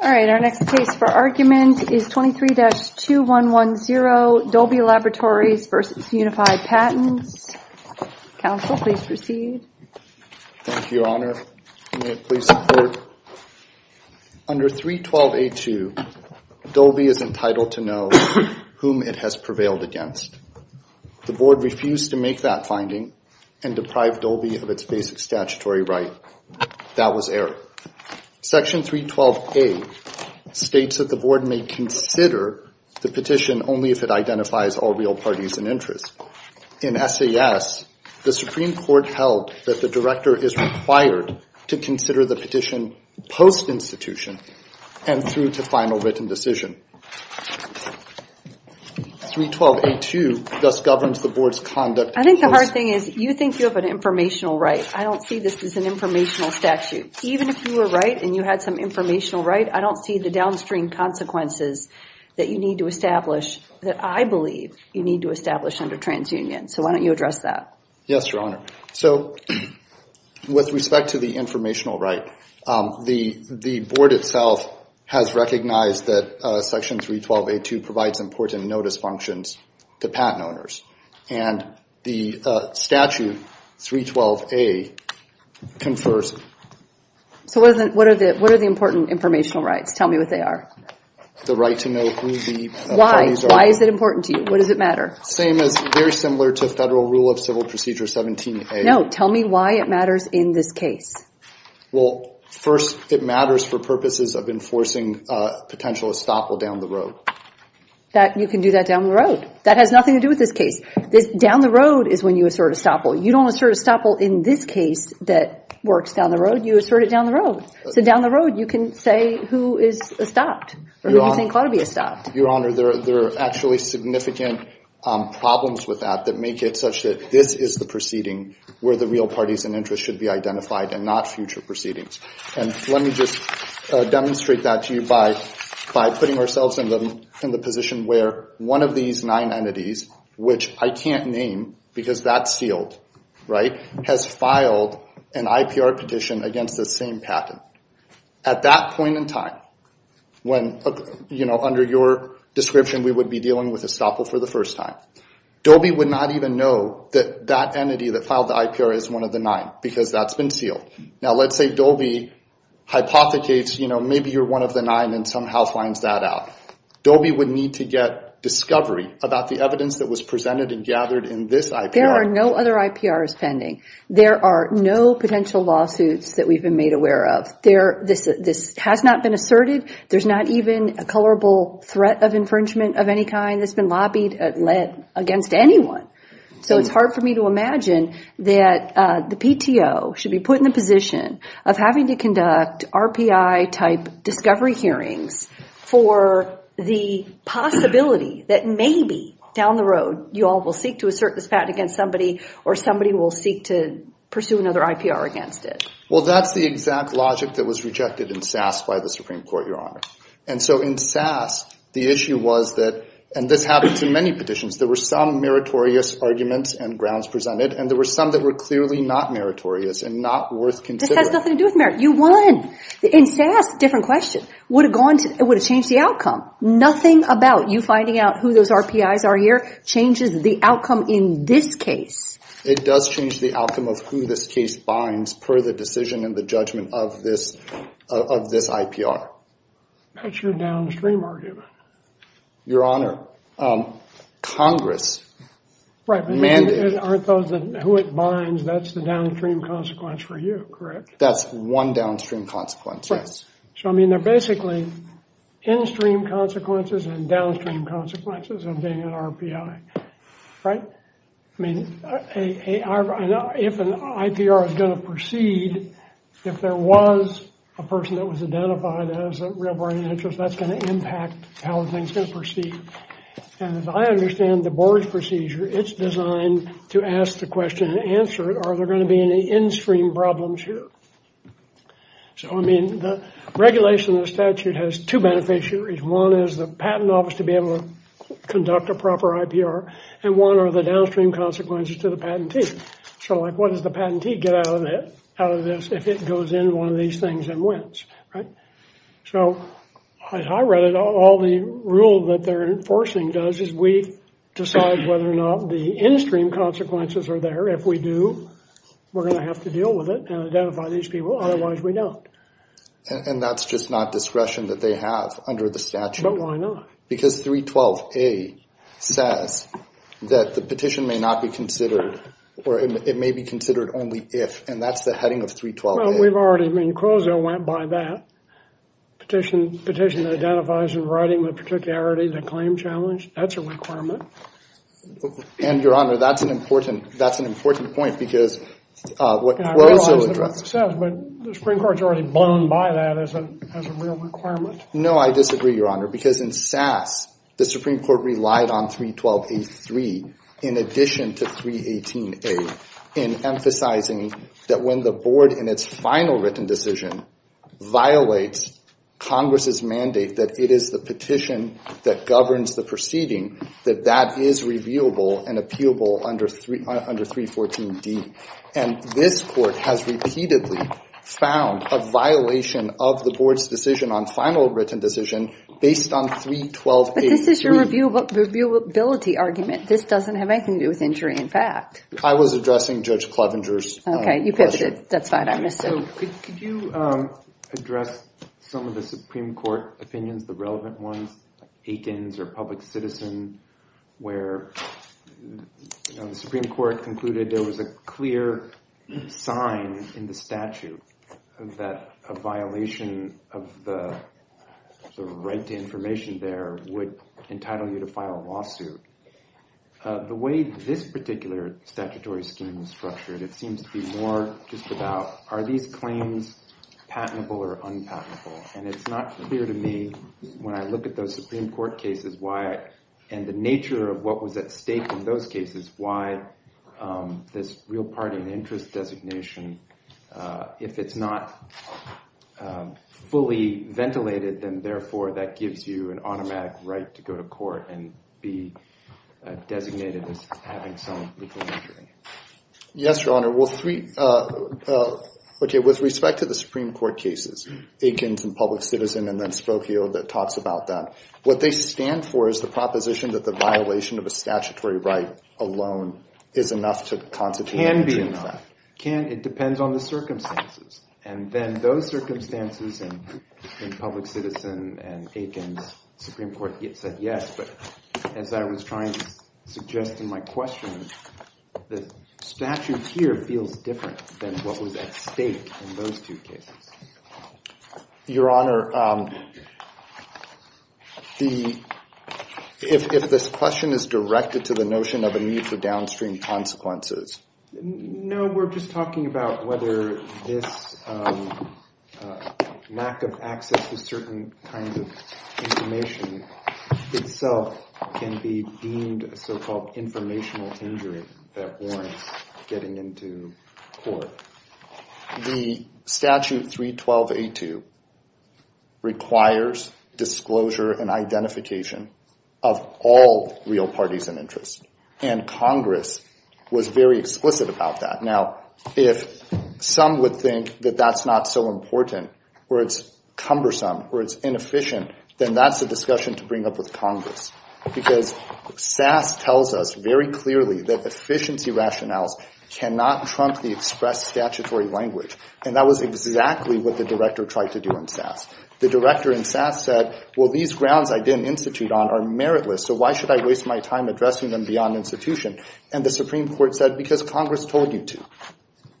Our next case for argument is 23-2110, Dolby Laboratories v. Unified Patents. Counsel, please proceed. Thank you, Your Honor. May it please the Court. Under 312A2, Dolby is entitled to know whom it has prevailed against. The Board refused to make that finding and deprived Dolby of its basic statutory right. That was error. Section 312A states that the Board may consider the petition only if it identifies all real parties and interests. In SAS, the Supreme Court held that the Director is required to consider the petition post-institution and through to final written decision. 312A2 thus governs the Board's conduct. I think the hard thing is you think you have an informational right. I don't see this as an informational statute. Even if you were right and you had some informational right, I don't see the downstream consequences that you need to establish, that I believe you need to establish under TransUnion. So why don't you address that? Yes, Your Honor. So with respect to the informational right, the Board itself has recognized that Section 312A2 provides important notice functions to patent owners. And the statute 312A confers. So what are the important informational rights? Tell me what they are. The right to know who the parties are. Why? Why is it important to you? What does it matter? Same as very similar to Federal Rule of Civil Procedure 17A. No. Tell me why it matters in this case. Well, first, it matters for purposes of enforcing potential estoppel down the road. You can do that down the road. That has nothing to do with this case. Down the road is when you assert estoppel. You don't assert estoppel in this case that works down the road. You assert it down the road. So down the road, you can say who is estopped or who you think ought to be estopped. Your Honor, there are actually significant problems with that that make it such that this is the proceeding where the real parties and interests should be identified and not future proceedings. Let me just demonstrate that to you by putting ourselves in the position where one of these nine entities, which I can't name because that's sealed, has filed an IPR petition against the same patent. At that point in time, under your description, we would be dealing with estoppel for the first time. Dolby would not even know that that entity that filed the IPR is one of the nine because that's been sealed. Now, let's say Dolby hypothecates maybe you're one of the nine and somehow finds that out. Dolby would need to get discovery about the evidence that was presented and gathered in this IPR. There are no other IPRs pending. There are no potential lawsuits that we've been made aware of. This has not been asserted. There's not even a colorable threat of infringement of any kind that's been lobbied against anyone. So it's hard for me to imagine that the PTO should be put in the position of having to conduct RPI-type discovery hearings for the possibility that maybe down the road you all will seek to assert this patent against somebody or somebody will seek to pursue another IPR against it. Well, that's the exact logic that was rejected in SAS by the Supreme Court, Your Honor. And so in SAS, the issue was that, and this happened to many petitions, there were some meritorious arguments and grounds presented and there were some that were clearly not meritorious and not worth considering. This has nothing to do with merit. You won. In SAS, different question. It would have changed the outcome. Nothing about you finding out who those RPIs are here changes the outcome in this case. It does change the outcome of who this case binds per the decision and the judgment of this IPR. That's your downstream argument. Your Honor, Congress mandated... Right, but aren't those who it binds, that's the downstream consequence for you, correct? That's one downstream consequence, yes. So, I mean, they're basically in-stream consequences and downstream consequences of being an RPI, right? I mean, if an IPR is going to proceed, if there was a person that was identified as a real body of interest, that's going to impact how things are going to proceed. And as I understand the board's procedure, it's designed to ask the question and answer it, are there going to be any in-stream problems here? So, I mean, the regulation of the statute has two beneficiaries. One is the patent office to be able to conduct a proper IPR and one are the downstream consequences to the patentee. So, like, what does the patentee get out of this if it goes in one of these things and wins, right? So, as I read it, all the rule that they're enforcing does is we decide whether or not the in-stream consequences are there. If we do, we're going to have to deal with it and identify these people. Otherwise, we don't. And that's just not discretion that they have under the statute. But why not? Because 312A says that the petition may not be considered or it may be considered only if, and that's the heading of 312A. Well, we've already, I mean, Quozo went by that. Petition identifies in writing the particularity of the claim challenge. That's a requirement. And, Your Honor, that's an important point because what Quozo addressed. But the Supreme Court's already blown by that as a real requirement. No, I disagree, Your Honor, because in SAS, the Supreme Court relied on 312A-3 in addition to 318A in emphasizing that when the board in its final written decision violates Congress's mandate that it is the petition that governs the proceeding, that that is revealable and appealable under 314D. And this court has repeatedly found a violation of the board's decision on final written decision based on 312A-3. But this is your reviewability argument. This doesn't have anything to do with injury in fact. I was addressing Judge Clevenger's question. Okay, you pivoted. That's fine. I missed it. Could you address some of the Supreme Court opinions, the relevant ones, where the Supreme Court concluded there was a clear sign in the statute that a violation of the right to information there would entitle you to file a lawsuit. The way this particular statutory scheme was structured, it seems to be more just about are these claims patentable or unpatentable? And it's not clear to me when I look at those Supreme Court cases why and the nature of what was at stake in those cases why this real party and interest designation, if it's not fully ventilated, then therefore that gives you an automatic right to go to court and be designated as having some legal injury. Yes, Your Honor. Okay, with respect to the Supreme Court cases, Aikens and Public Citizen and then Spokio that talks about that, what they stand for is the proposition that the violation of a statutory right alone is enough to constitute injury in fact. It depends on the circumstances. And then those circumstances in Public Citizen and Aikens, the Supreme Court said yes, but as I was trying to suggest in my question, the statute here feels different than what was at stake in those two cases. Your Honor, if this question is directed to the notion of a need for downstream consequences. No, we're just talking about whether this lack of access to certain kinds of information itself can be deemed a so-called informational injury that warrants getting into court. The statute 312A2 requires disclosure and identification of all real parties and interests. And Congress was very explicit about that. Now, if some would think that that's not so important or it's cumbersome or it's inefficient, then that's a discussion to bring up with Congress. Because SAS tells us very clearly that efficiency rationales cannot trump the express statutory language. And that was exactly what the director tried to do in SAS. The director in SAS said, well, these grounds I didn't institute on are meritless, so why should I waste my time addressing them beyond institution? And the Supreme Court said, because Congress told you to.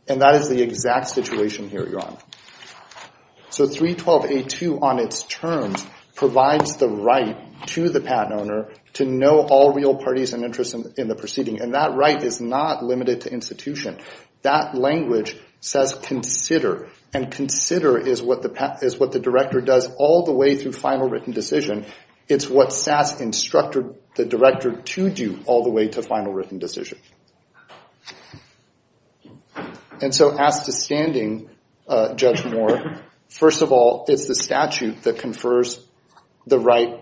And that is the exact situation here, Your Honor. So 312A2 on its terms provides the right to the patent owner to know all real parties and interests in the proceeding. And that right is not limited to institution. That language says consider. And consider is what the director does all the way through final written decision. It's what SAS instructed the director to do all the way to final written decision. And so as to standing, Judge Moore, first of all, it's the statute that confers the right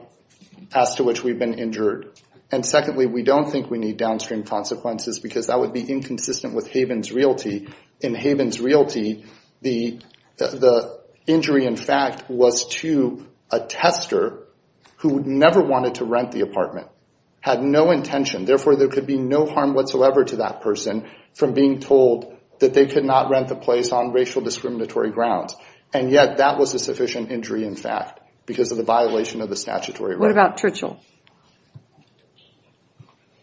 as to which we've been injured. And secondly, we don't think we need downstream consequences because that would be inconsistent with Haven's Realty. In Haven's Realty, the injury, in fact, was to a tester who never wanted to rent the apartment, had no intention. Therefore, there could be no harm whatsoever to that person from being told that they could not rent the place on racial discriminatory grounds. And yet that was a sufficient injury, in fact, because of the violation of the statutory right. What about Tritchell?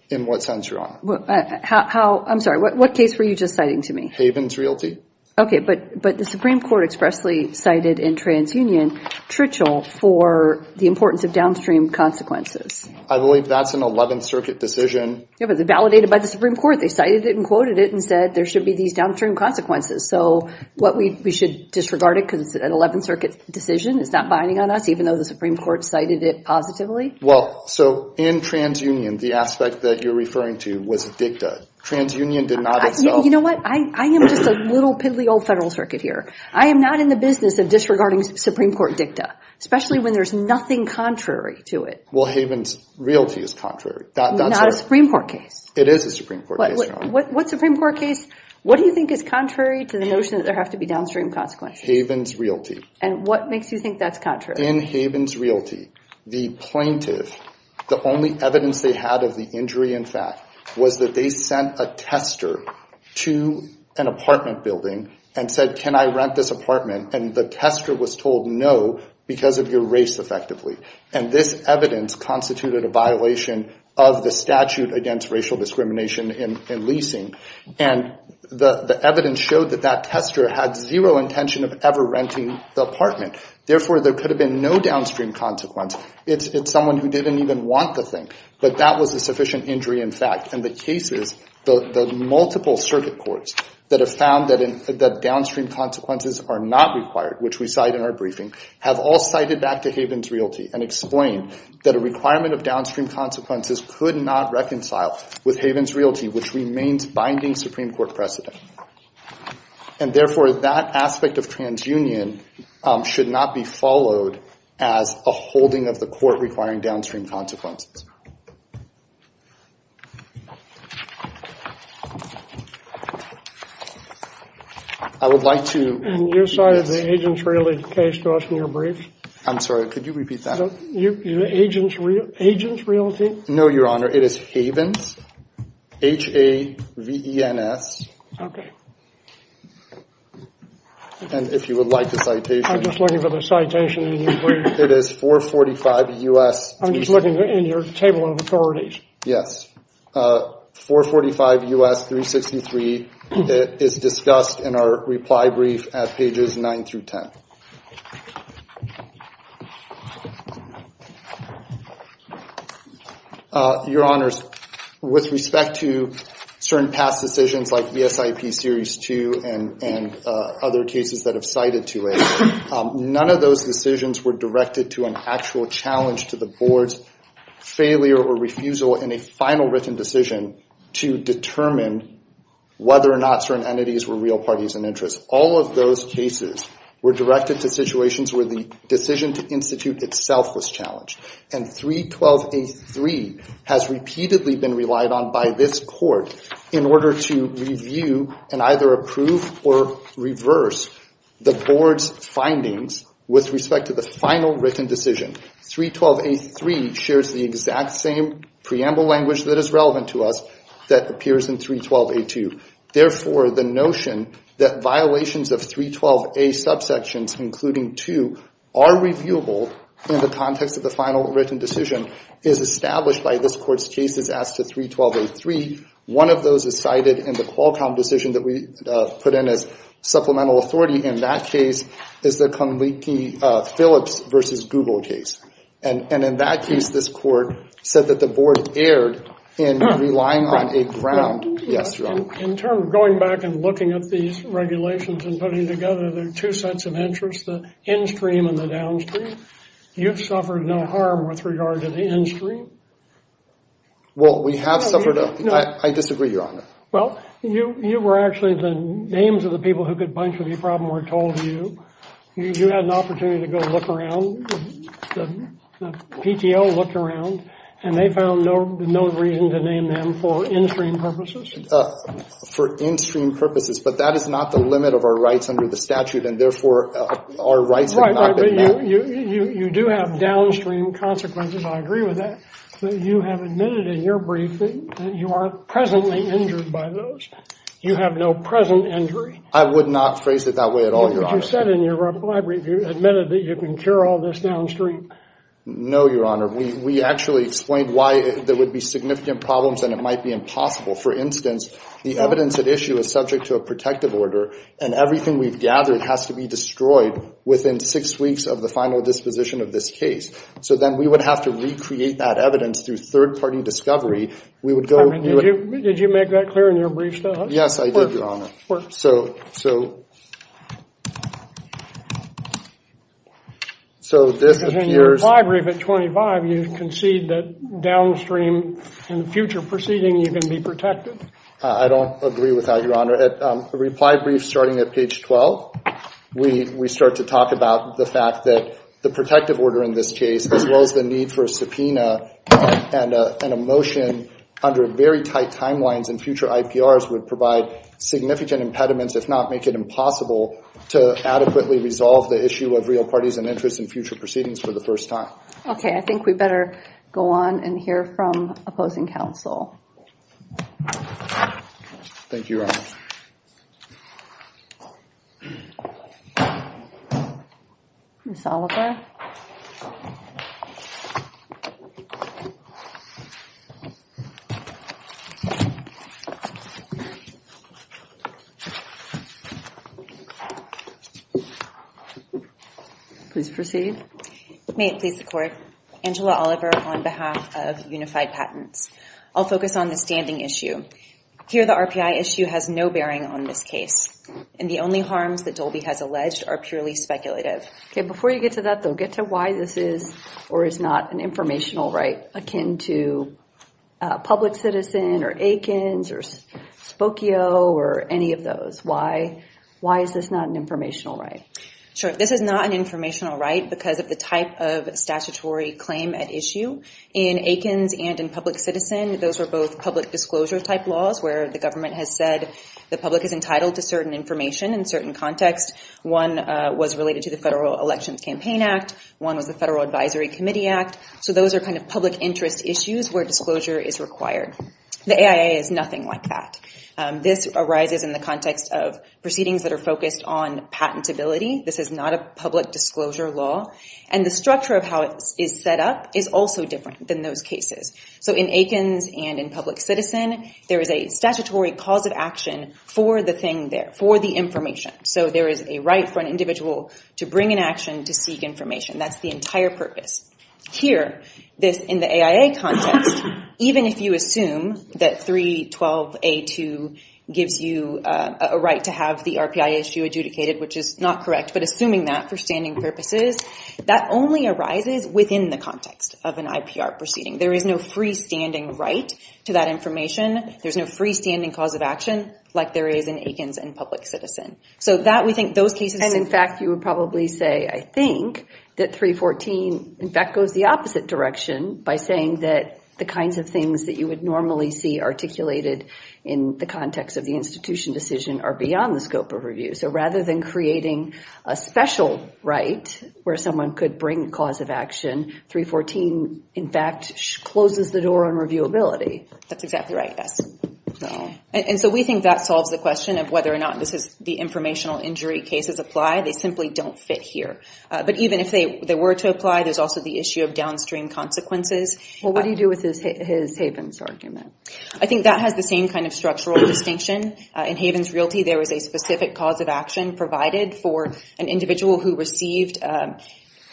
In what sense, Your Honor? I'm sorry, what case were you just citing to me? Haven's Realty. Okay, but the Supreme Court expressly cited in TransUnion Tritchell for the importance of downstream consequences. I believe that's an 11th Circuit decision. Yeah, but it was validated by the Supreme Court. They cited it and quoted it and said there should be these downstream consequences. So what we should disregard it because it's an 11th Circuit decision. It's not binding on us, even though the Supreme Court cited it positively. Well, so in TransUnion, the aspect that you're referring to was dicta. TransUnion did not itself. You know what? I am just a little piddly old federal circuit here. I am not in the business of disregarding Supreme Court dicta, especially when there's nothing contrary to it. Well, Haven's Realty is contrary. Not a Supreme Court case. It is a Supreme Court case, Your Honor. What Supreme Court case, what do you think is contrary to the notion that there have to be downstream consequences? Haven's Realty. And what makes you think that's contrary? In Haven's Realty, the plaintiff, the only evidence they had of the injury, in fact, was that they sent a tester to an apartment building and said, can I rent this apartment? And the tester was told no because of your race, effectively. And this evidence constituted a violation of the statute against racial discrimination in leasing. And the evidence showed that that tester had zero intention of ever renting the apartment. Therefore, there could have been no downstream consequence. It's someone who didn't even want the thing. But that was a sufficient injury, in fact. And the cases, the multiple circuit courts that have found that downstream consequences are not required, which we cite in our briefing, have all cited back to Haven's Realty and explained that a requirement of downstream consequences could not reconcile with Haven's Realty, which remains binding Supreme Court precedent. And therefore, that aspect of transunion should not be followed as a holding of the court requiring downstream consequences. I would like to... And you cited the agents' realty case to us in your brief. I'm sorry. Could you repeat that? Agents' realty? No, Your Honor. It is Haven's, H-A-V-E-N-S. Okay. And if you would like the citation. I'm just looking for the citation in your brief. It is 445 U.S. I'm just looking for H-A-V-E-N-S. Yes. 445 U.S. 363 is discussed in our reply brief at pages 9 through 10. Your Honors, with respect to certain past decisions like ESIP Series 2 and other cases that have cited to it, none of those decisions were directed to an actual challenge to the board's failure or refusal in a final written decision to determine whether or not certain entities were real parties in interest. All of those cases were directed to situations where the decision to institute itself was challenged. And 312A3 has repeatedly been relied on by this court in order to review and either approve or reverse the board's findings with respect to the final written decision. 312A3 shares the exact same preamble language that is relevant to us that appears in 312A2. Therefore, the notion that violations of 312A subsections, including 2, are reviewable in the context of the final written decision is established by this court's cases as to 312A3. One of those is cited in the Qualcomm decision that we put in as supplemental authority. In that case is the Conleaky-Phillips v. Google case. And in that case, this court said that the board erred in relying on a ground. Yes, Your Honor. In terms of going back and looking at these regulations and putting them together, there are two sets of interests, the in-stream and the downstream. You've suffered no harm with regard to the in-stream. Well, we have suffered. I disagree, Your Honor. Well, you were actually the names of the people who could bunch with you probably were told to you. You had an opportunity to go look around. The PTO looked around, and they found no reason to name them for in-stream purposes. For in-stream purposes. But that is not the limit of our rights under the statute, and therefore our rights have not been met. Right, right. But you do have downstream consequences. I agree with that. You have admitted in your briefing that you are presently injured by those. You have no present injury. I would not phrase it that way at all, Your Honor. But you said in your reply brief you admitted that you can cure all this downstream. No, Your Honor. We actually explained why there would be significant problems and it might be impossible. For instance, the evidence at issue is subject to a protective order, and everything we've gathered has to be destroyed within six weeks of the final disposition of this case. So then we would have to recreate that evidence through third-party discovery. Did you make that clear in your brief, though? Yes, I did, Your Honor. So this appears— Because in your reply brief at 25, you concede that downstream in the future proceeding you can be protected. I don't agree with that, Your Honor. In your reply brief starting at page 12, we start to talk about the fact that the protective order in this case, as well as the need for a subpoena and a motion under very tight timelines in future IPRs, would provide significant impediments, if not make it impossible, to adequately resolve the issue of real parties and interests in future proceedings for the first time. Okay, I think we better go on and hear from opposing counsel. Thank you, Your Honor. Ms. Oliver? Please proceed. May it please the Court, Angela Oliver on behalf of Unified Patents. I'll focus on the standing issue. Here, the RPI issue has no bearing on this case, and the only harms that Dolby has alleged are purely speculative. Okay, before you get to that, though, get to why this is or is not an informational right akin to public citizen or Akins or Spokio or any of those. Why is this not an informational right? Sure, this is not an informational right because of the type of statutory claim at issue. In Akins and in public citizen, those were both public disclosure type laws where the government has said the public is entitled to certain information in certain context. One was related to the Federal Elections Campaign Act. One was the Federal Advisory Committee Act. So those are kind of public interest issues where disclosure is required. The AIA is nothing like that. This arises in the context of proceedings that are focused on patentability. This is not a public disclosure law. And the structure of how it is set up is also different than those cases. So in Akins and in public citizen, there is a statutory cause of action for the thing there, for the information. So there is a right for an individual to bring an action to seek information. That's the entire purpose. Here, this in the AIA context, even if you assume that 312A2 gives you a right to have the RPI issue adjudicated, which is not correct, but assuming that for standing purposes, that only arises within the context of an IPR proceeding. There is no freestanding right to that information. There's no freestanding cause of action like there is in Akins and public citizen. And in fact, you would probably say, I think that 314, in fact, goes the opposite direction by saying that the kinds of things that you would normally see articulated in the context of the institution decision are beyond the scope of review. So rather than creating a special right where someone could bring a cause of action, 314, in fact, closes the door on reviewability. That's exactly right, yes. And so we think that solves the question of whether or not the informational injury cases apply. They simply don't fit here. But even if they were to apply, there's also the issue of downstream consequences. Well, what do you do with his Havens argument? I think that has the same kind of structural distinction. In Havens Realty, there was a specific cause of action provided for an individual who received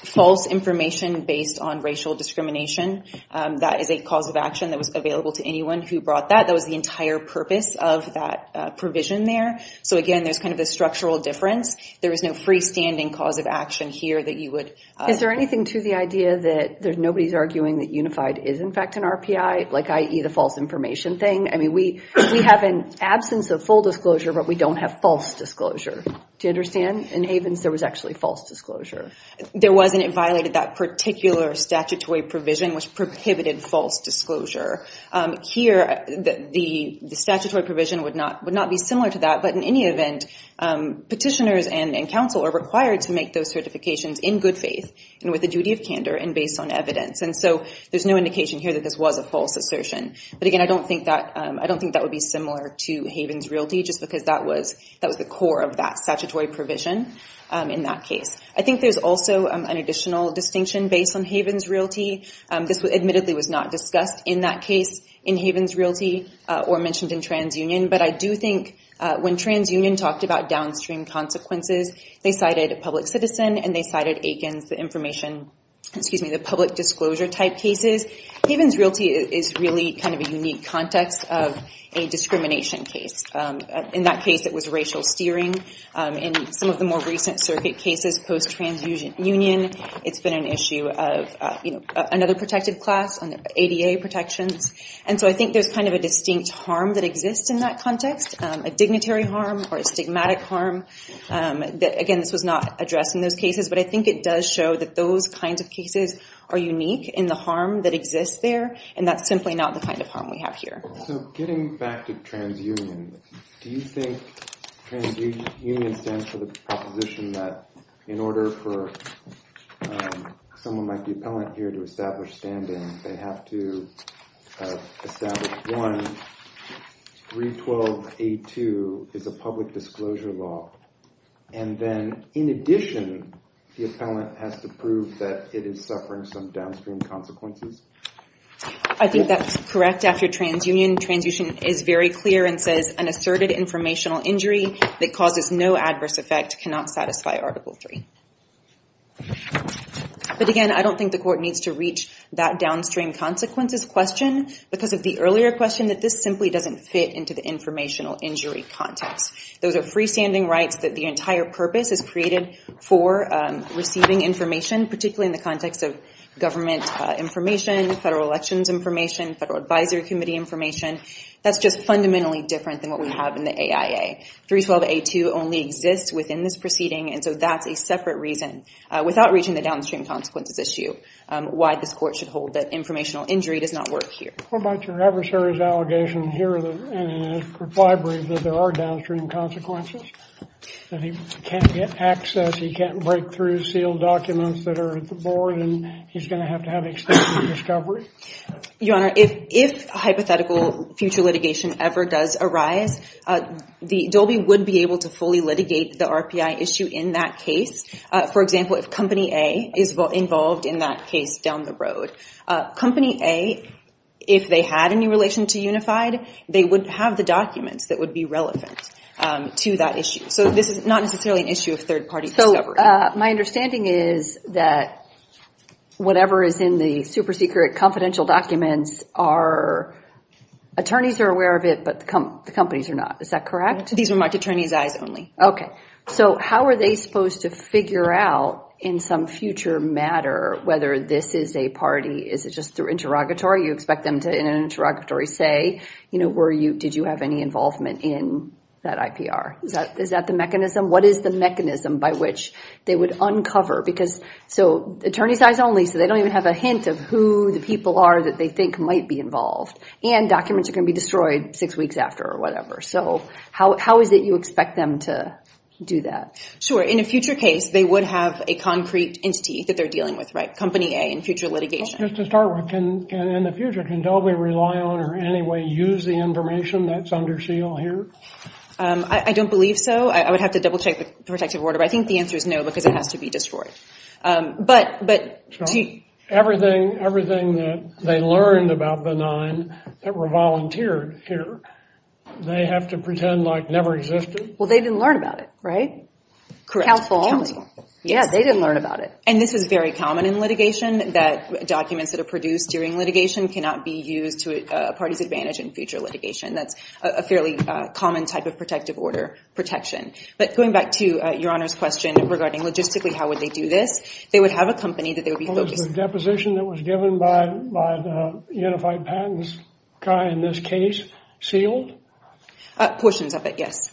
false information based on racial discrimination. That is a cause of action that was available to anyone who brought that. That was the entire purpose of that provision there. So again, there's kind of a structural difference. There is no freestanding cause of action here that you would— Is there anything to the idea that nobody's arguing that Unified is, in fact, an RPI, i.e., the false information thing? I mean, we have an absence of full disclosure, but we don't have false disclosure. Do you understand? In Havens, there was actually false disclosure. There wasn't. It violated that particular statutory provision, which prohibited false disclosure. Here, the statutory provision would not be similar to that. But in any event, petitioners and counsel are required to make those certifications in good faith and with a duty of candor and based on evidence. And so there's no indication here that this was a false assertion. But again, I don't think that would be similar to Havens Realty just because that was the core of that statutory provision in that case. I think there's also an additional distinction based on Havens Realty. This admittedly was not discussed in that case in Havens Realty or mentioned in TransUnion. But I do think when TransUnion talked about downstream consequences, they cited a public citizen and they cited Aikens, the information— excuse me, the public disclosure type cases. Havens Realty is really kind of a unique context of a discrimination case. In that case, it was racial steering. In some of the more recent circuit cases post-TransUnion, it's been an issue of another protected class, ADA protections. And so I think there's kind of a distinct harm that exists in that context, a dignitary harm or a stigmatic harm. Again, this was not addressed in those cases. But I think it does show that those kinds of cases are unique in the harm that exists there. And that's simply not the kind of harm we have here. So getting back to TransUnion, do you think TransUnion stands for the proposition that in order for someone like the appellant here to establish standing, they have to establish, one, 312A2 is a public disclosure law. And then in addition, the appellant has to prove that it is suffering some downstream consequences? I think that's correct. After TransUnion, TransUnion is very clear and says an asserted informational injury that causes no adverse effect cannot satisfy Article III. But again, I don't think the court needs to reach that downstream consequences question because of the earlier question that this simply doesn't fit into the informational injury context. Those are freestanding rights that the entire purpose is created for receiving information, particularly in the context of government information, federal elections information, federal advisory committee information. That's just fundamentally different than what we have in the AIA. 312A2 only exists within this proceeding, and so that's a separate reason, without reaching the downstream consequences issue, why this court should hold that informational injury does not work here. What about your adversary's allegation here in the library that there are downstream consequences, that he can't get access, he can't break through sealed documents that are at the board, and he's going to have to have extensive discovery? Your Honor, if hypothetical future litigation ever does arise, Dolby would be able to fully litigate the RPI issue in that case. For example, if Company A is involved in that case down the road. Company A, if they had any relation to Unified, they would have the documents that would be relevant to that issue. So this is not necessarily an issue of third-party discovery. My understanding is that whatever is in the super-secret confidential documents, our attorneys are aware of it, but the companies are not. Is that correct? These are marked attorney's eyes only. Okay. So how are they supposed to figure out in some future matter whether this is a party? Is it just through interrogatory? You expect them to, in an interrogatory, say, did you have any involvement in that IPR? Is that the mechanism? What is the mechanism by which they would uncover? So attorney's eyes only, so they don't even have a hint of who the people are that they think might be involved. And documents are going to be destroyed six weeks after or whatever. So how is it you expect them to do that? Sure. In a future case, they would have a concrete entity that they're dealing with, right? Company A in future litigation. Just to start with, in the future, can Dobey rely on or in any way use the information that's under seal here? I don't believe so. I would have to double-check the protective order, but I think the answer is no because it has to be destroyed. Everything that they learned about Benign that were volunteered here, they have to pretend like never existed? Well, they didn't learn about it, right? Counsel only. Yeah, they didn't learn about it. And this is very common in litigation, that documents that are produced during litigation cannot be used to a party's advantage in future litigation. That's a fairly common type of protective order protection. But going back to Your Honor's question regarding logistically, how would they do this? They would have a company that they would be focused on. Was the deposition that was given by the Unified Patents guy in this case sealed? Portions of it, yes.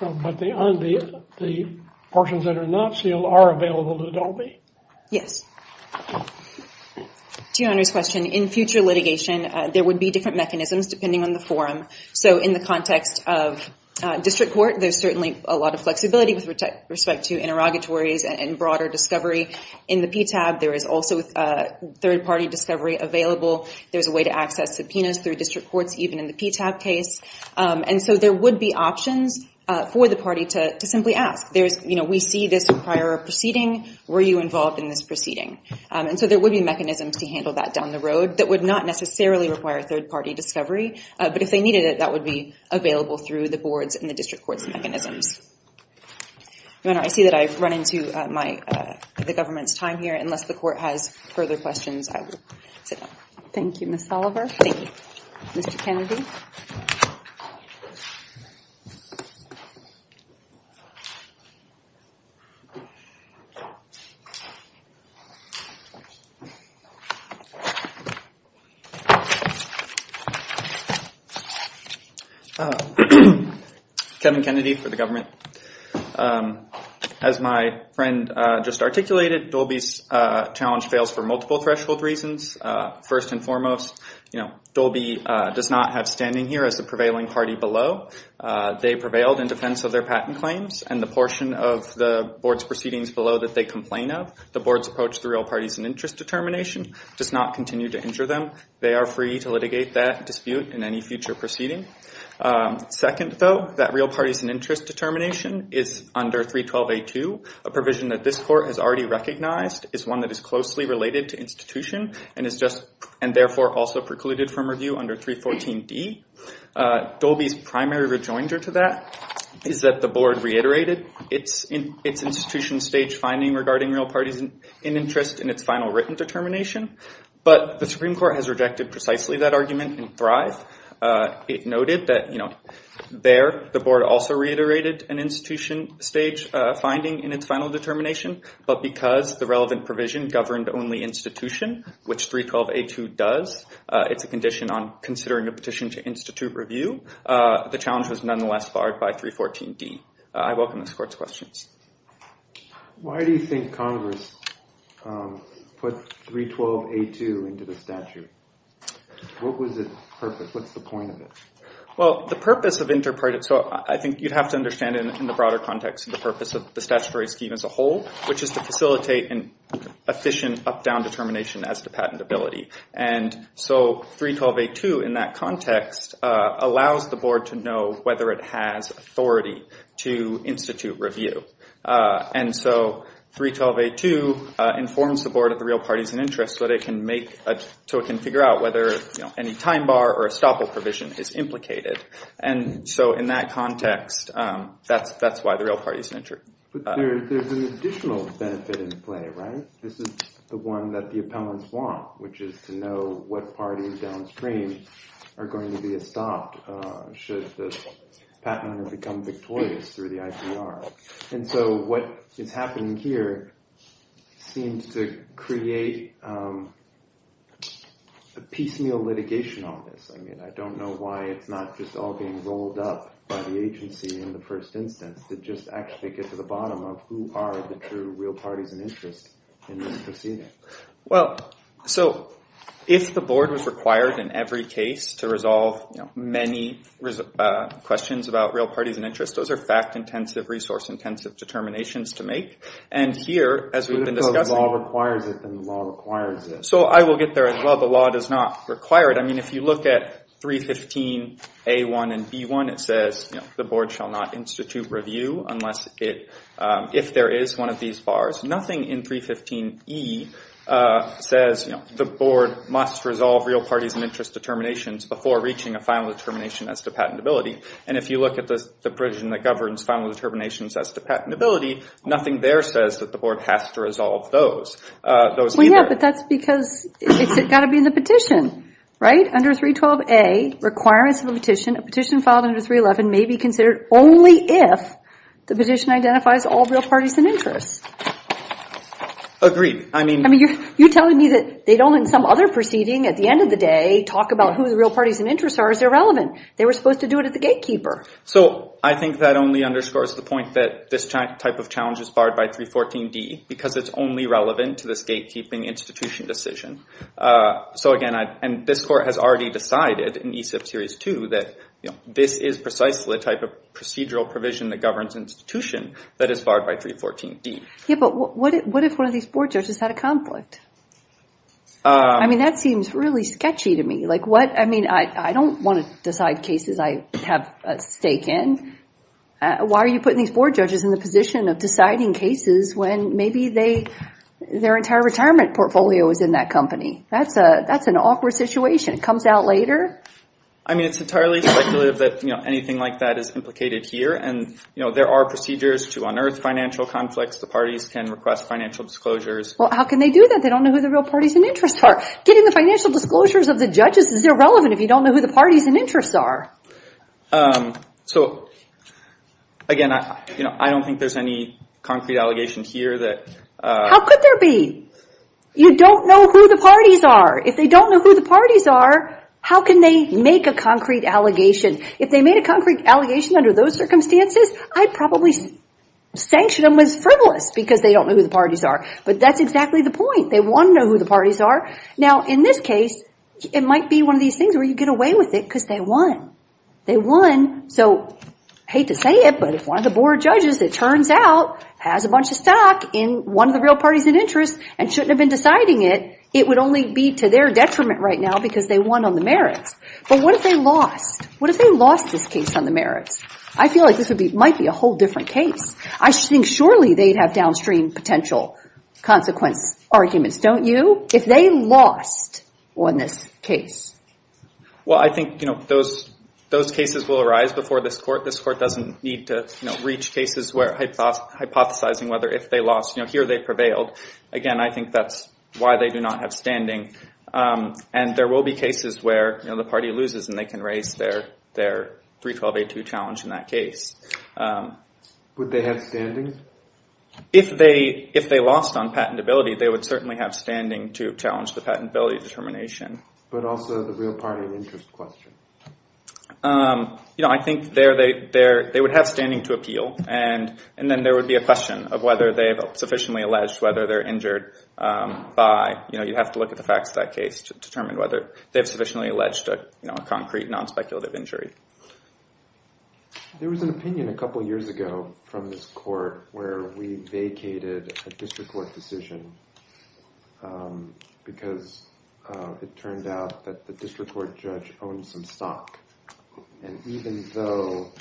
But the portions that are not sealed are available to Dobey? Yes. To Your Honor's question, in future litigation, there would be different mechanisms depending on the forum. So in the context of district court, there's certainly a lot of flexibility with respect to interrogatories and broader discovery. In the PTAB, there is also third-party discovery available. There's a way to access subpoenas through district courts even in the PTAB case. And so there would be options for the party to simply ask. We see this prior proceeding. Were you involved in this proceeding? And so there would be mechanisms to handle that down the road that would not necessarily require third-party discovery. But if they needed it, that would be available through the boards and the district court's mechanisms. Your Honor, I see that I've run into the government's time here. Unless the court has further questions, I will sit down. Thank you, Ms. Oliver. Thank you. Mr. Kennedy? Kevin Kennedy for the government. As my friend just articulated, Dolby's challenge fails for multiple threshold reasons. First and foremost, Dolby does not have standing here as the prevailing party below. They prevailed in defense of their patent claims. And the portion of the board's proceedings below that they complain of, the board's approach to the real party's interest determination, does not continue to injure them. They are free to litigate that dispute in any future proceeding. Second, though, that real party's interest determination is under 312A2, a provision that this court has already recognized, is one that is closely related to institution, and therefore also precluded from review under 314D. Dolby's primary rejoinder to that is that the board reiterated its institution stage finding regarding real party's interest in its final written determination. But the Supreme Court has rejected precisely that argument in Thrive. It noted that there the board also reiterated an institution stage finding in its final determination, but because the relevant provision governed only institution, which 312A2 does, it's a condition on considering a petition to institute review. The challenge was nonetheless barred by 314D. I welcome this court's questions. Why do you think Congress put 312A2 into the statute? What was its purpose? What's the point of it? Well, the purpose of interparty, so I think you'd have to understand it in the broader context, the purpose of the statutory scheme as a whole, which is to facilitate an efficient up-down determination as to patentability. And so 312A2 in that context allows the board to know whether it has authority to institute review. And so 312A2 informs the board of the real party's interest so it can figure out whether any time bar or estoppel provision is implicated. And so in that context, that's why the real party's interest. But there's an additional benefit in play, right? This is the one that the appellants want, which is to know what parties downstream are going to be estopped should the patent owner become victorious through the IPR. And so what is happening here seems to create a piecemeal litigation on this. I mean, I don't know why it's not just all being rolled up by the agency in the first instance to just actually get to the bottom of who are the true real parties in interest in this proceeding. Well, so if the board was required in every case to resolve many questions about real parties in interest, those are fact-intensive, resource-intensive determinations to make. And here, as we've been discussing— But if the law requires it, then the law requires it. So I will get there as well. The law does not require it. I mean, if you look at 315A1 and B1, it says the board shall not institute review if there is one of these bars. Nothing in 315E says the board must resolve real parties in interest determinations before reaching a final determination as to patentability. And if you look at the provision that governs final determinations as to patentability, nothing there says that the board has to resolve those. Well, yeah, but that's because it's got to be in the petition, right? Under 312A, requirements of a petition, a petition filed under 311 may be considered only if the petition identifies all real parties in interest. Agreed. I mean— I mean, you're telling me that they don't in some other proceeding at the end of the day talk about who the real parties in interest are as they're relevant. They were supposed to do it at the gatekeeper. So I think that only underscores the point that this type of challenge is barred by 314D because it's only relevant to this gatekeeping institution decision. So, again, and this court has already decided in ESIP Series 2 that this is precisely the type of procedural provision that governs institution that is barred by 314D. Yeah, but what if one of these board judges had a conflict? I mean, that seems really sketchy to me. Like, what—I mean, I don't want to decide cases I have a stake in. Why are you putting these board judges in the position of deciding cases when maybe their entire retirement portfolio is in that company? That's an awkward situation. It comes out later. I mean, it's entirely speculative that anything like that is implicated here. And there are procedures to unearth financial conflicts. The parties can request financial disclosures. Well, how can they do that? They don't know who the real parties in interest are. Getting the financial disclosures of the judges is irrelevant if you don't know who the parties in interest are. So, again, I don't think there's any concrete allegation here that— How could there be? You don't know who the parties are. If they don't know who the parties are, how can they make a concrete allegation? If they made a concrete allegation under those circumstances, I'd probably sanction them with frivolous because they don't know who the parties are. But that's exactly the point. They want to know who the parties are. Now, in this case, it might be one of these things where you get away with it because they won. They won. So, I hate to say it, but if one of the board judges, it turns out, has a bunch of stock in one of the real parties in interest and shouldn't have been deciding it, it would only be to their detriment right now because they won on the merits. But what if they lost? What if they lost this case on the merits? I feel like this might be a whole different case. I think surely they'd have downstream potential consequence arguments, don't you? If they lost on this case. Well, I think those cases will arise before this court. This court doesn't need to reach cases where hypothesizing whether if they lost, here they prevailed. Again, I think that's why they do not have standing. And there will be cases where the party loses and they can raise their 312A2 challenge in that case. Would they have standings? If they lost on patentability, they would certainly have standing to challenge the patentability determination. But also the real party in interest question. You know, I think they would have standing to appeal and then there would be a question of whether they have sufficiently alleged whether they're injured by, you know, you'd have to look at the facts of that case to determine whether they've sufficiently alleged a concrete, non-speculative injury. There was an opinion a couple years ago from this court where we vacated a district court decision because it turned out that the district court judge owned some stock. And even though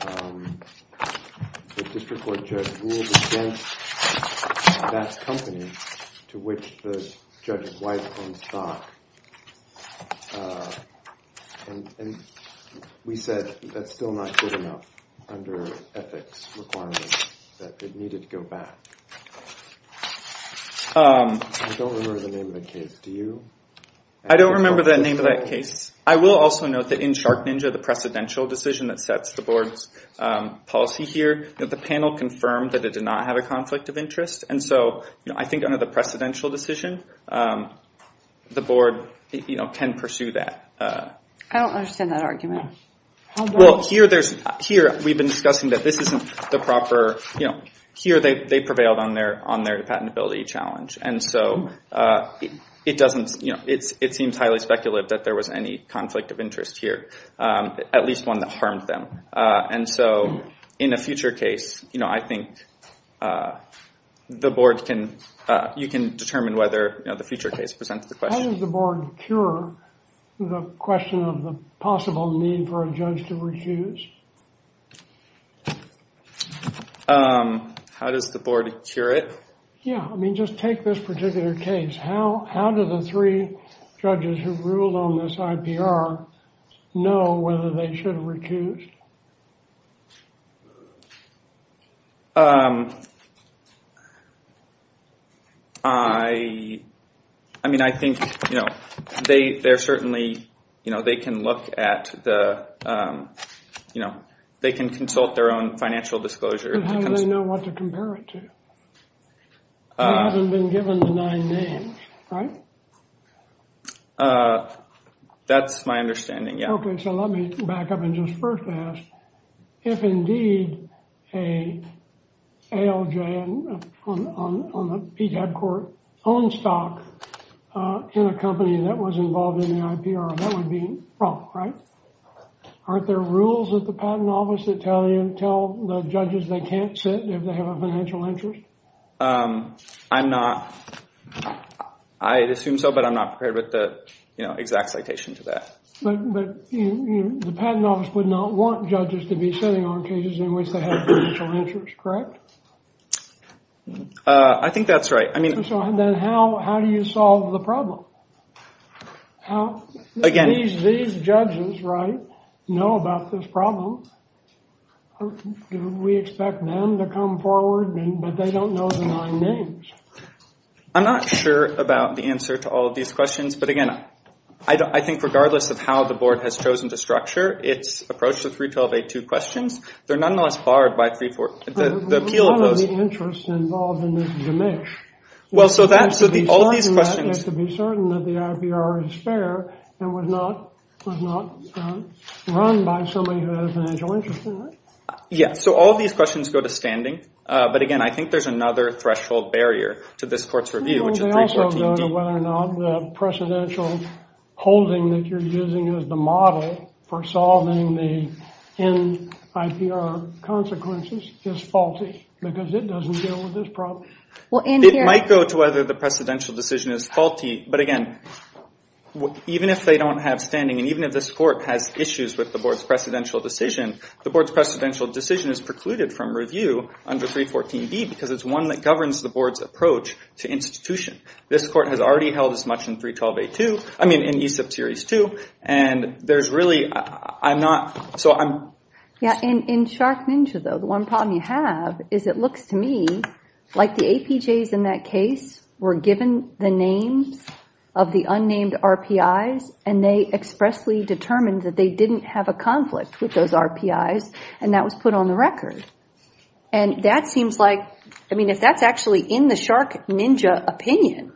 the district court judge ruled against that company to which the judge's wife owned stock. And we said that's still not good enough under ethics requirements that it needed to go back. I don't remember the name of the case. Do you? I don't remember the name of that case. I will also note that in Shark Ninja, the precedential decision that sets the board's policy here, that the panel confirmed that it did not have a conflict of interest. And so I think under the precedential decision, the board can pursue that. I don't understand that argument. Well, here we've been discussing that this isn't the proper, here they prevailed on their patentability challenge. And so it seems highly speculative that there was any conflict of interest here, at least one that harmed them. And so in a future case, I think the board can, you can determine whether the future case presents the question. How does the board cure the question of the possible need for a judge to refuse? How does the board cure it? Yeah, I mean, just take this particular case. How do the three judges who ruled on this IPR know whether they should recuse? I mean, I think they're certainly, you know, they can look at the, you know, they can consult their own financial disclosure. But how do they know what to compare it to? They haven't been given the nine names, right? That's my understanding, yeah. Okay, so let me back up and just first ask, if indeed a ALJ, on the PTAB court, owned stock in a company that was involved in the IPR, that would be wrong, right? Aren't there rules at the patent office that tell the judges they can't sit if they have a financial interest? I'm not, I assume so, but I'm not prepared with the exact citation to that. But the patent office would not want judges to be sitting on cases in which they have financial interest, correct? I think that's right. So then how do you solve the problem? How do these judges, right, know about this problem? Do we expect them to come forward, but they don't know the nine names? I'm not sure about the answer to all of these questions, but again, I think regardless of how the board has chosen to structure its approach to 312A2 questions, they're nonetheless barred by 314, the appeal of those. There was none of the interest involved in this demish. Well, so that, so all these questions... You have to be certain that the IPR is fair and was not run by somebody who had a financial interest in it. Yeah, so all these questions go to standing, but again, I think there's another threshold barrier to this court's review, which is 314D. Well, they also go to whether or not the precedential holding that you're using as the model for solving the NIPR consequences is faulty because it doesn't deal with this problem. It might go to whether the precedential decision is faulty, but again, even if they don't have standing and even if this court has issues with the board's precedential decision, the board's precedential decision is precluded from review under 314D because it's one that governs the board's approach to institution. This court has already held as much in 312A2, I mean, in ESIP Series 2, and there's really... Yeah, in Shark Ninja, though, the one problem you have is it looks to me like the APJs in that case were given the names of the unnamed RPIs and they expressly determined that they didn't have a conflict with those RPIs and that was put on the record. And that seems like... I mean, if that's actually in the Shark Ninja opinion,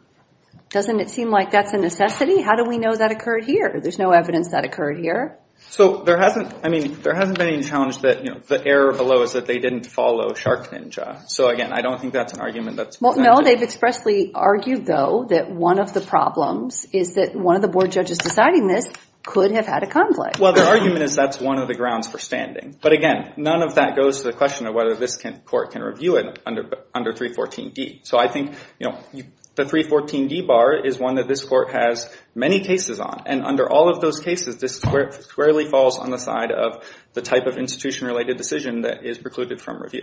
doesn't it seem like that's a necessity? How do we know that occurred here? There's no evidence that occurred here. So there hasn't been any challenge that the error below is that they didn't follow Shark Ninja. So again, I don't think that's an argument that's... Well, no, they've expressly argued, though, that one of the problems is that one of the board judges deciding this could have had a conflict. Well, the argument is that's one of the grounds for standing. But again, none of that goes to the question of whether this court can review it under 314D. So I think the 314D bar is one that this court has many cases on. And under all of those cases, this squarely falls on the side of the type of institution-related decision that is precluded from review.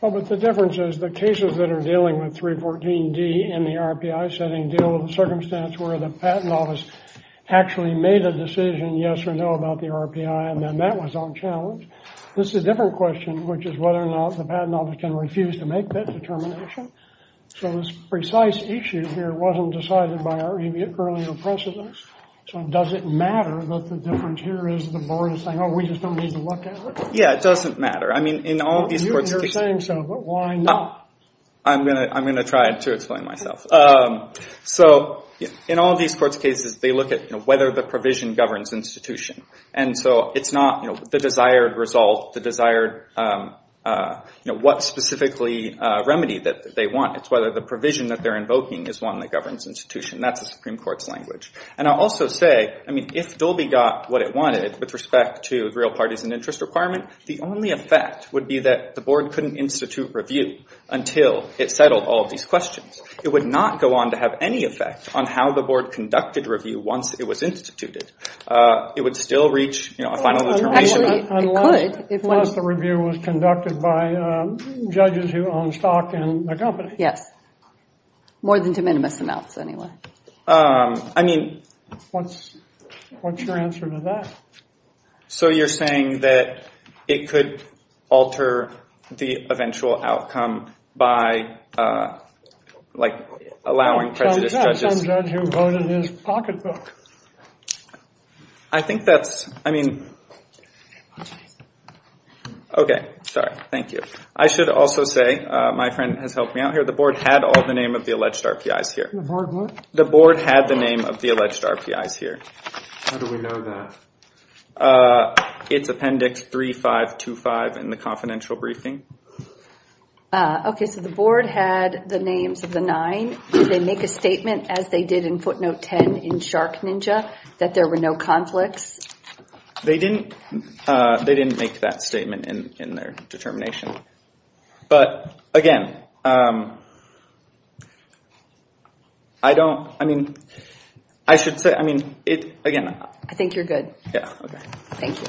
Well, but the difference is the cases that are dealing with 314D in the RPI setting deal with a circumstance where the patent office actually made a decision, yes or no, about the RPI and then that was on challenge. This is a different question, which is whether or not the patent office can refuse to make that determination. So this precise issue here wasn't decided by our earlier precedents. So does it matter that the difference here is the board is saying, oh, we just don't need to look at it? Yeah, it doesn't matter. I mean, in all of these courts... You've been saying so, but why not? I'm going to try to explain myself. So in all of these courts' cases, they look at whether the provision governs institution. And so it's not the desired result, what specifically remedy that they want. It's whether the provision that they're invoking is one that governs institution. That's the Supreme Court's language. And I'll also say, I mean, if Dolby got what it wanted with respect to real parties and interest requirement, the only effect would be that the board couldn't institute review until it settled all of these questions. It would not go on to have any effect on how the board conducted review once it was instituted. It would still reach a final determination... Unless the review was conducted by judges who own stock in the company. Yes. More than to minimus amounts, anyway. I mean... What's your answer to that? So you're saying that it could alter the eventual outcome by, like, allowing prejudiced judges... Some judge who voted his pocketbook. I think that's... I mean... Okay. Sorry. Thank you. I should also say, my friend has helped me out here, the board had all the name of the alleged RPIs here. The board what? The board had the name of the alleged RPIs here. How do we know that? It's appendix 3525 in the confidential briefing. Okay, so the board had the names of the nine. Did they make a statement as they did in footnote 10 in Shark Ninja that there were no conflicts? They didn't make that statement in their determination. But, again... I don't... I mean... I should say... I mean, again... I think you're good. Yeah, okay. Thank you.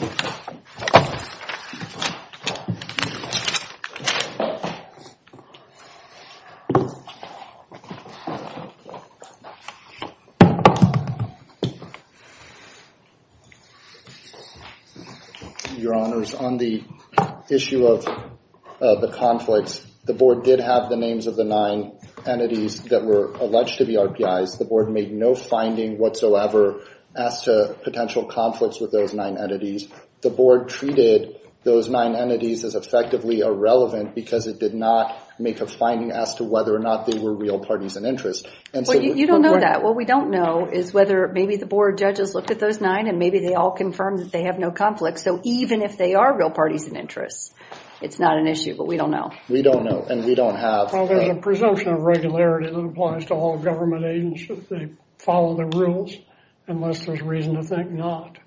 Your Honors, on the issue of the conflicts, the board did have the names of the nine entities that were alleged to be RPIs. The board made no finding whatsoever as to potential conflicts with those nine entities. The board treated those nine entities as effectively irrelevant because it did not make a finding as to whether or not they were real parties in interest. You don't know that. What we don't know is whether maybe the board judges looked at those nine and maybe they all confirmed that they have no conflicts. So, even if they are real parties in interest, it's not an issue, but we don't know. We don't know, and we don't have... Well, there's a presumption of regularity that applies to all government agencies. They follow the rules unless there's reason to think not.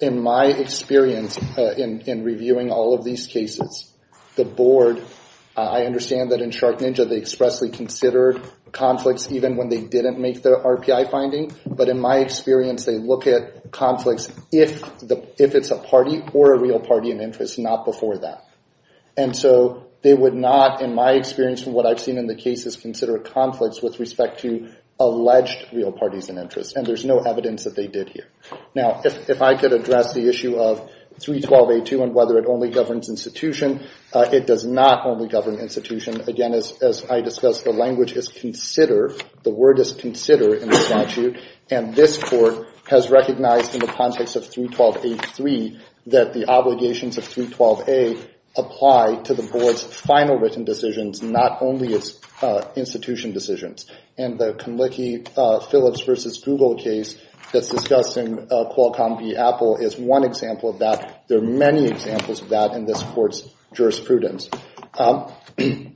In my experience in reviewing all of these cases, the board, I understand that in Shark Ninja, they expressly considered conflicts even when they didn't make their RPI finding. But in my experience, they look at conflicts if it's a party or a real party in interest, not before that. And so, they would not, in my experience, from what I've seen in the cases, consider conflicts with respect to alleged real parties in interest. And there's no evidence that they did here. Now, if I could address the issue of 312A2 and whether it only governs institution, it does not only govern institution. Again, as I discussed, the language is consider. The word is consider in the statute. And this court has recognized in the context of 312A3 that the obligations of 312A apply to the board's final written decisions, not only its institution decisions. And the Conlicke-Phillips v. Google case that's discussed in Qualcomm v. Apple is one example of that. There are many examples of that in this court's jurisprudence. The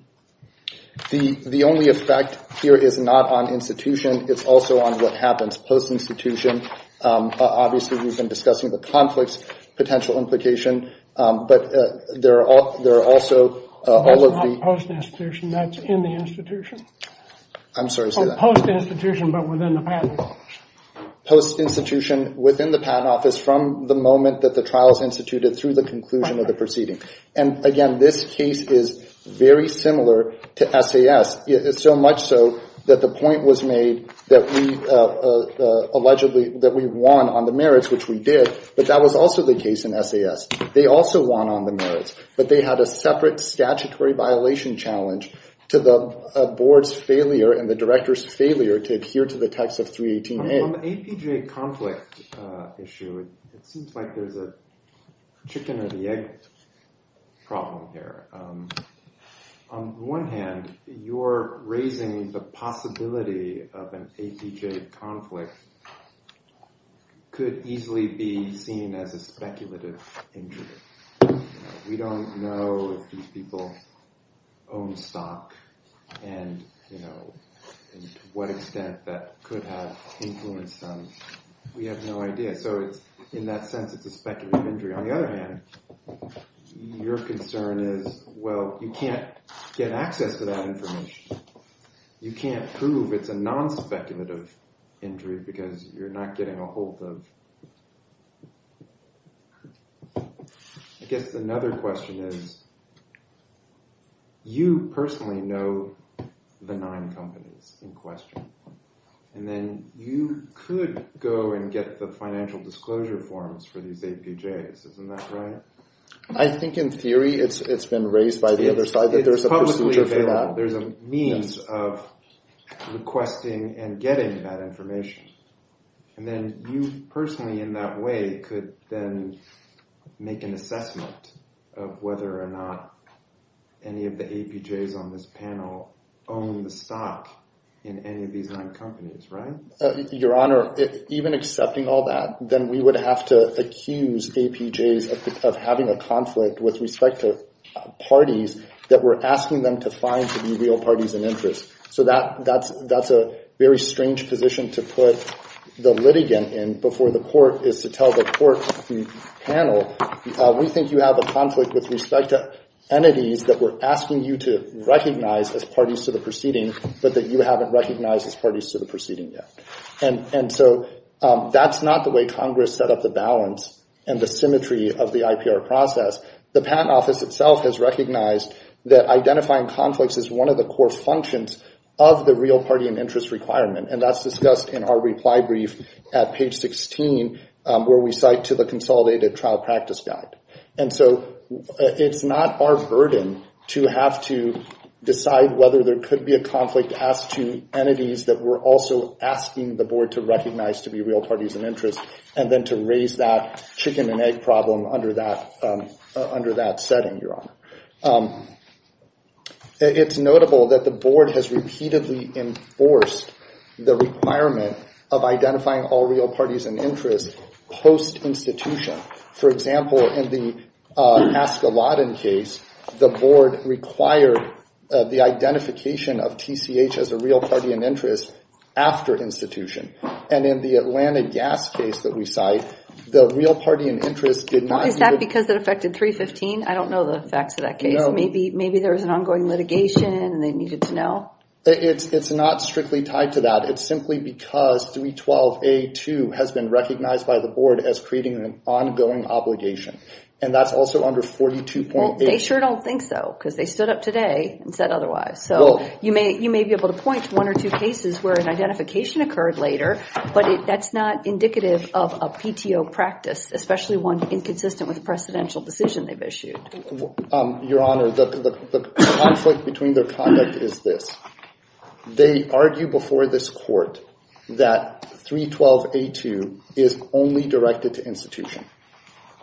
only effect here is not on institution. It's also on what happens post-institution. Obviously, we've been discussing the conflicts potential implication. But there are also all of the... That's not post-institution. That's in the institution. I'm sorry to say that. Post-institution, but within the patent office. Post-institution within the patent office from the moment that the trial is instituted through the conclusion of the proceeding. And again, this case is very similar to SAS, so much so that the point was made that we won on the merits, which we did, but that was also the case in SAS. They also won on the merits, but they had a separate statutory violation challenge to the board's failure and the director's failure to adhere to the text of 318A. On the APJ conflict issue, it seems like there's a chicken or the egg problem here. On one hand, you're raising the possibility of an APJ conflict could easily be seen as a speculative injury. We don't know if these people own stock and to what extent that could have influenced them. We have no idea. So in that sense, it's a speculative injury. On the other hand, your concern is, well, you can't get access to that information. You can't prove it's a non-speculative injury because you're not getting a hold of... I guess another question is, you personally know the nine companies in question, and then you could go and get the financial disclosure forms for these APJs. Isn't that right? I think in theory it's been raised by the other side that there's a procedure for that. There's a means of requesting and getting that information, and then you personally in that way could then make an assessment of whether or not any of the APJs on this panel own the stock in any of these nine companies, right? Your Honor, even accepting all that, then we would have to accuse APJs of having a conflict with respect to parties that we're asking them to find to be real parties in interest. So that's a very strange position to put the litigant in before the court is to tell the court, the panel, we think you have a conflict with respect to entities that we're asking you to recognize as parties to the proceeding, but that you haven't recognized as parties to the proceeding yet. And so that's not the way Congress set up the balance and the symmetry of the IPR process. The Patent Office itself has recognized that identifying conflicts is one of the core functions of the real party in interest requirement, and that's discussed in our reply brief at page 16, where we cite to the consolidated trial practice guide. And so it's not our burden to have to decide whether there could be a conflict as to entities that we're also asking the board to recognize to be real parties in interest and then to raise that chicken and egg problem under that setting, Your Honor. It's notable that the board has repeatedly enforced the requirement of identifying all real parties in interest post-institution. For example, in the Askeladden case, the board required the identification of TCH as a real party in interest after institution. And in the Atlanta gas case that we cite, the real party in interest did not... Is that because it affected 315? I don't know the facts of that case. Maybe there was an ongoing litigation and they needed to know. It's not strictly tied to that. It's simply because 312A2 has been recognized by the board as creating an ongoing obligation, and that's also under 42.8. Well, they sure don't think so, because they stood up today and said otherwise. So you may be able to point to one or two cases where an identification occurred later, but that's not indicative of a PTO practice, especially one inconsistent with the precedential decision they've issued. Your Honor, the conflict between their conduct is this. They argue before this court that 312A2 is only directed to institution.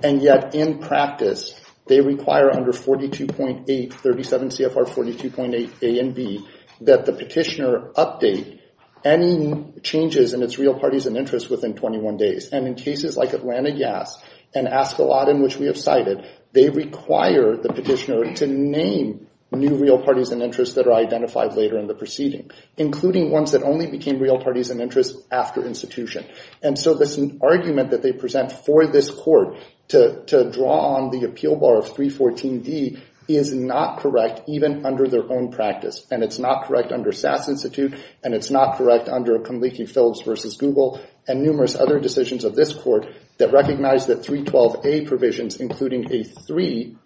And yet, in practice, they require under 42.8, 37 CFR 42.8 A and B, that the petitioner update any changes in its real parties in interest within 21 days. And in cases like Atlanta gas and Askeladden, which we have cited, they require the petitioner to name new real parties in interest that are identified later in the proceeding, including ones that only became real parties in interest after institution. And so this argument that they present for this court to draw on the appeal bar of 314D is not correct, even under their own practice. And it's not correct under SAS Institute, and it's not correct under Conleaky-Phillips v. Google and numerous other decisions of this court that recognize that 312A provisions, including A3,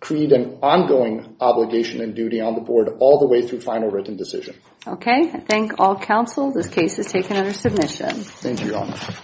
create an ongoing obligation and duty on the board all the way through final written decision. Okay. I thank all counsel. This case is taken under submission. Thank you, Your Honor.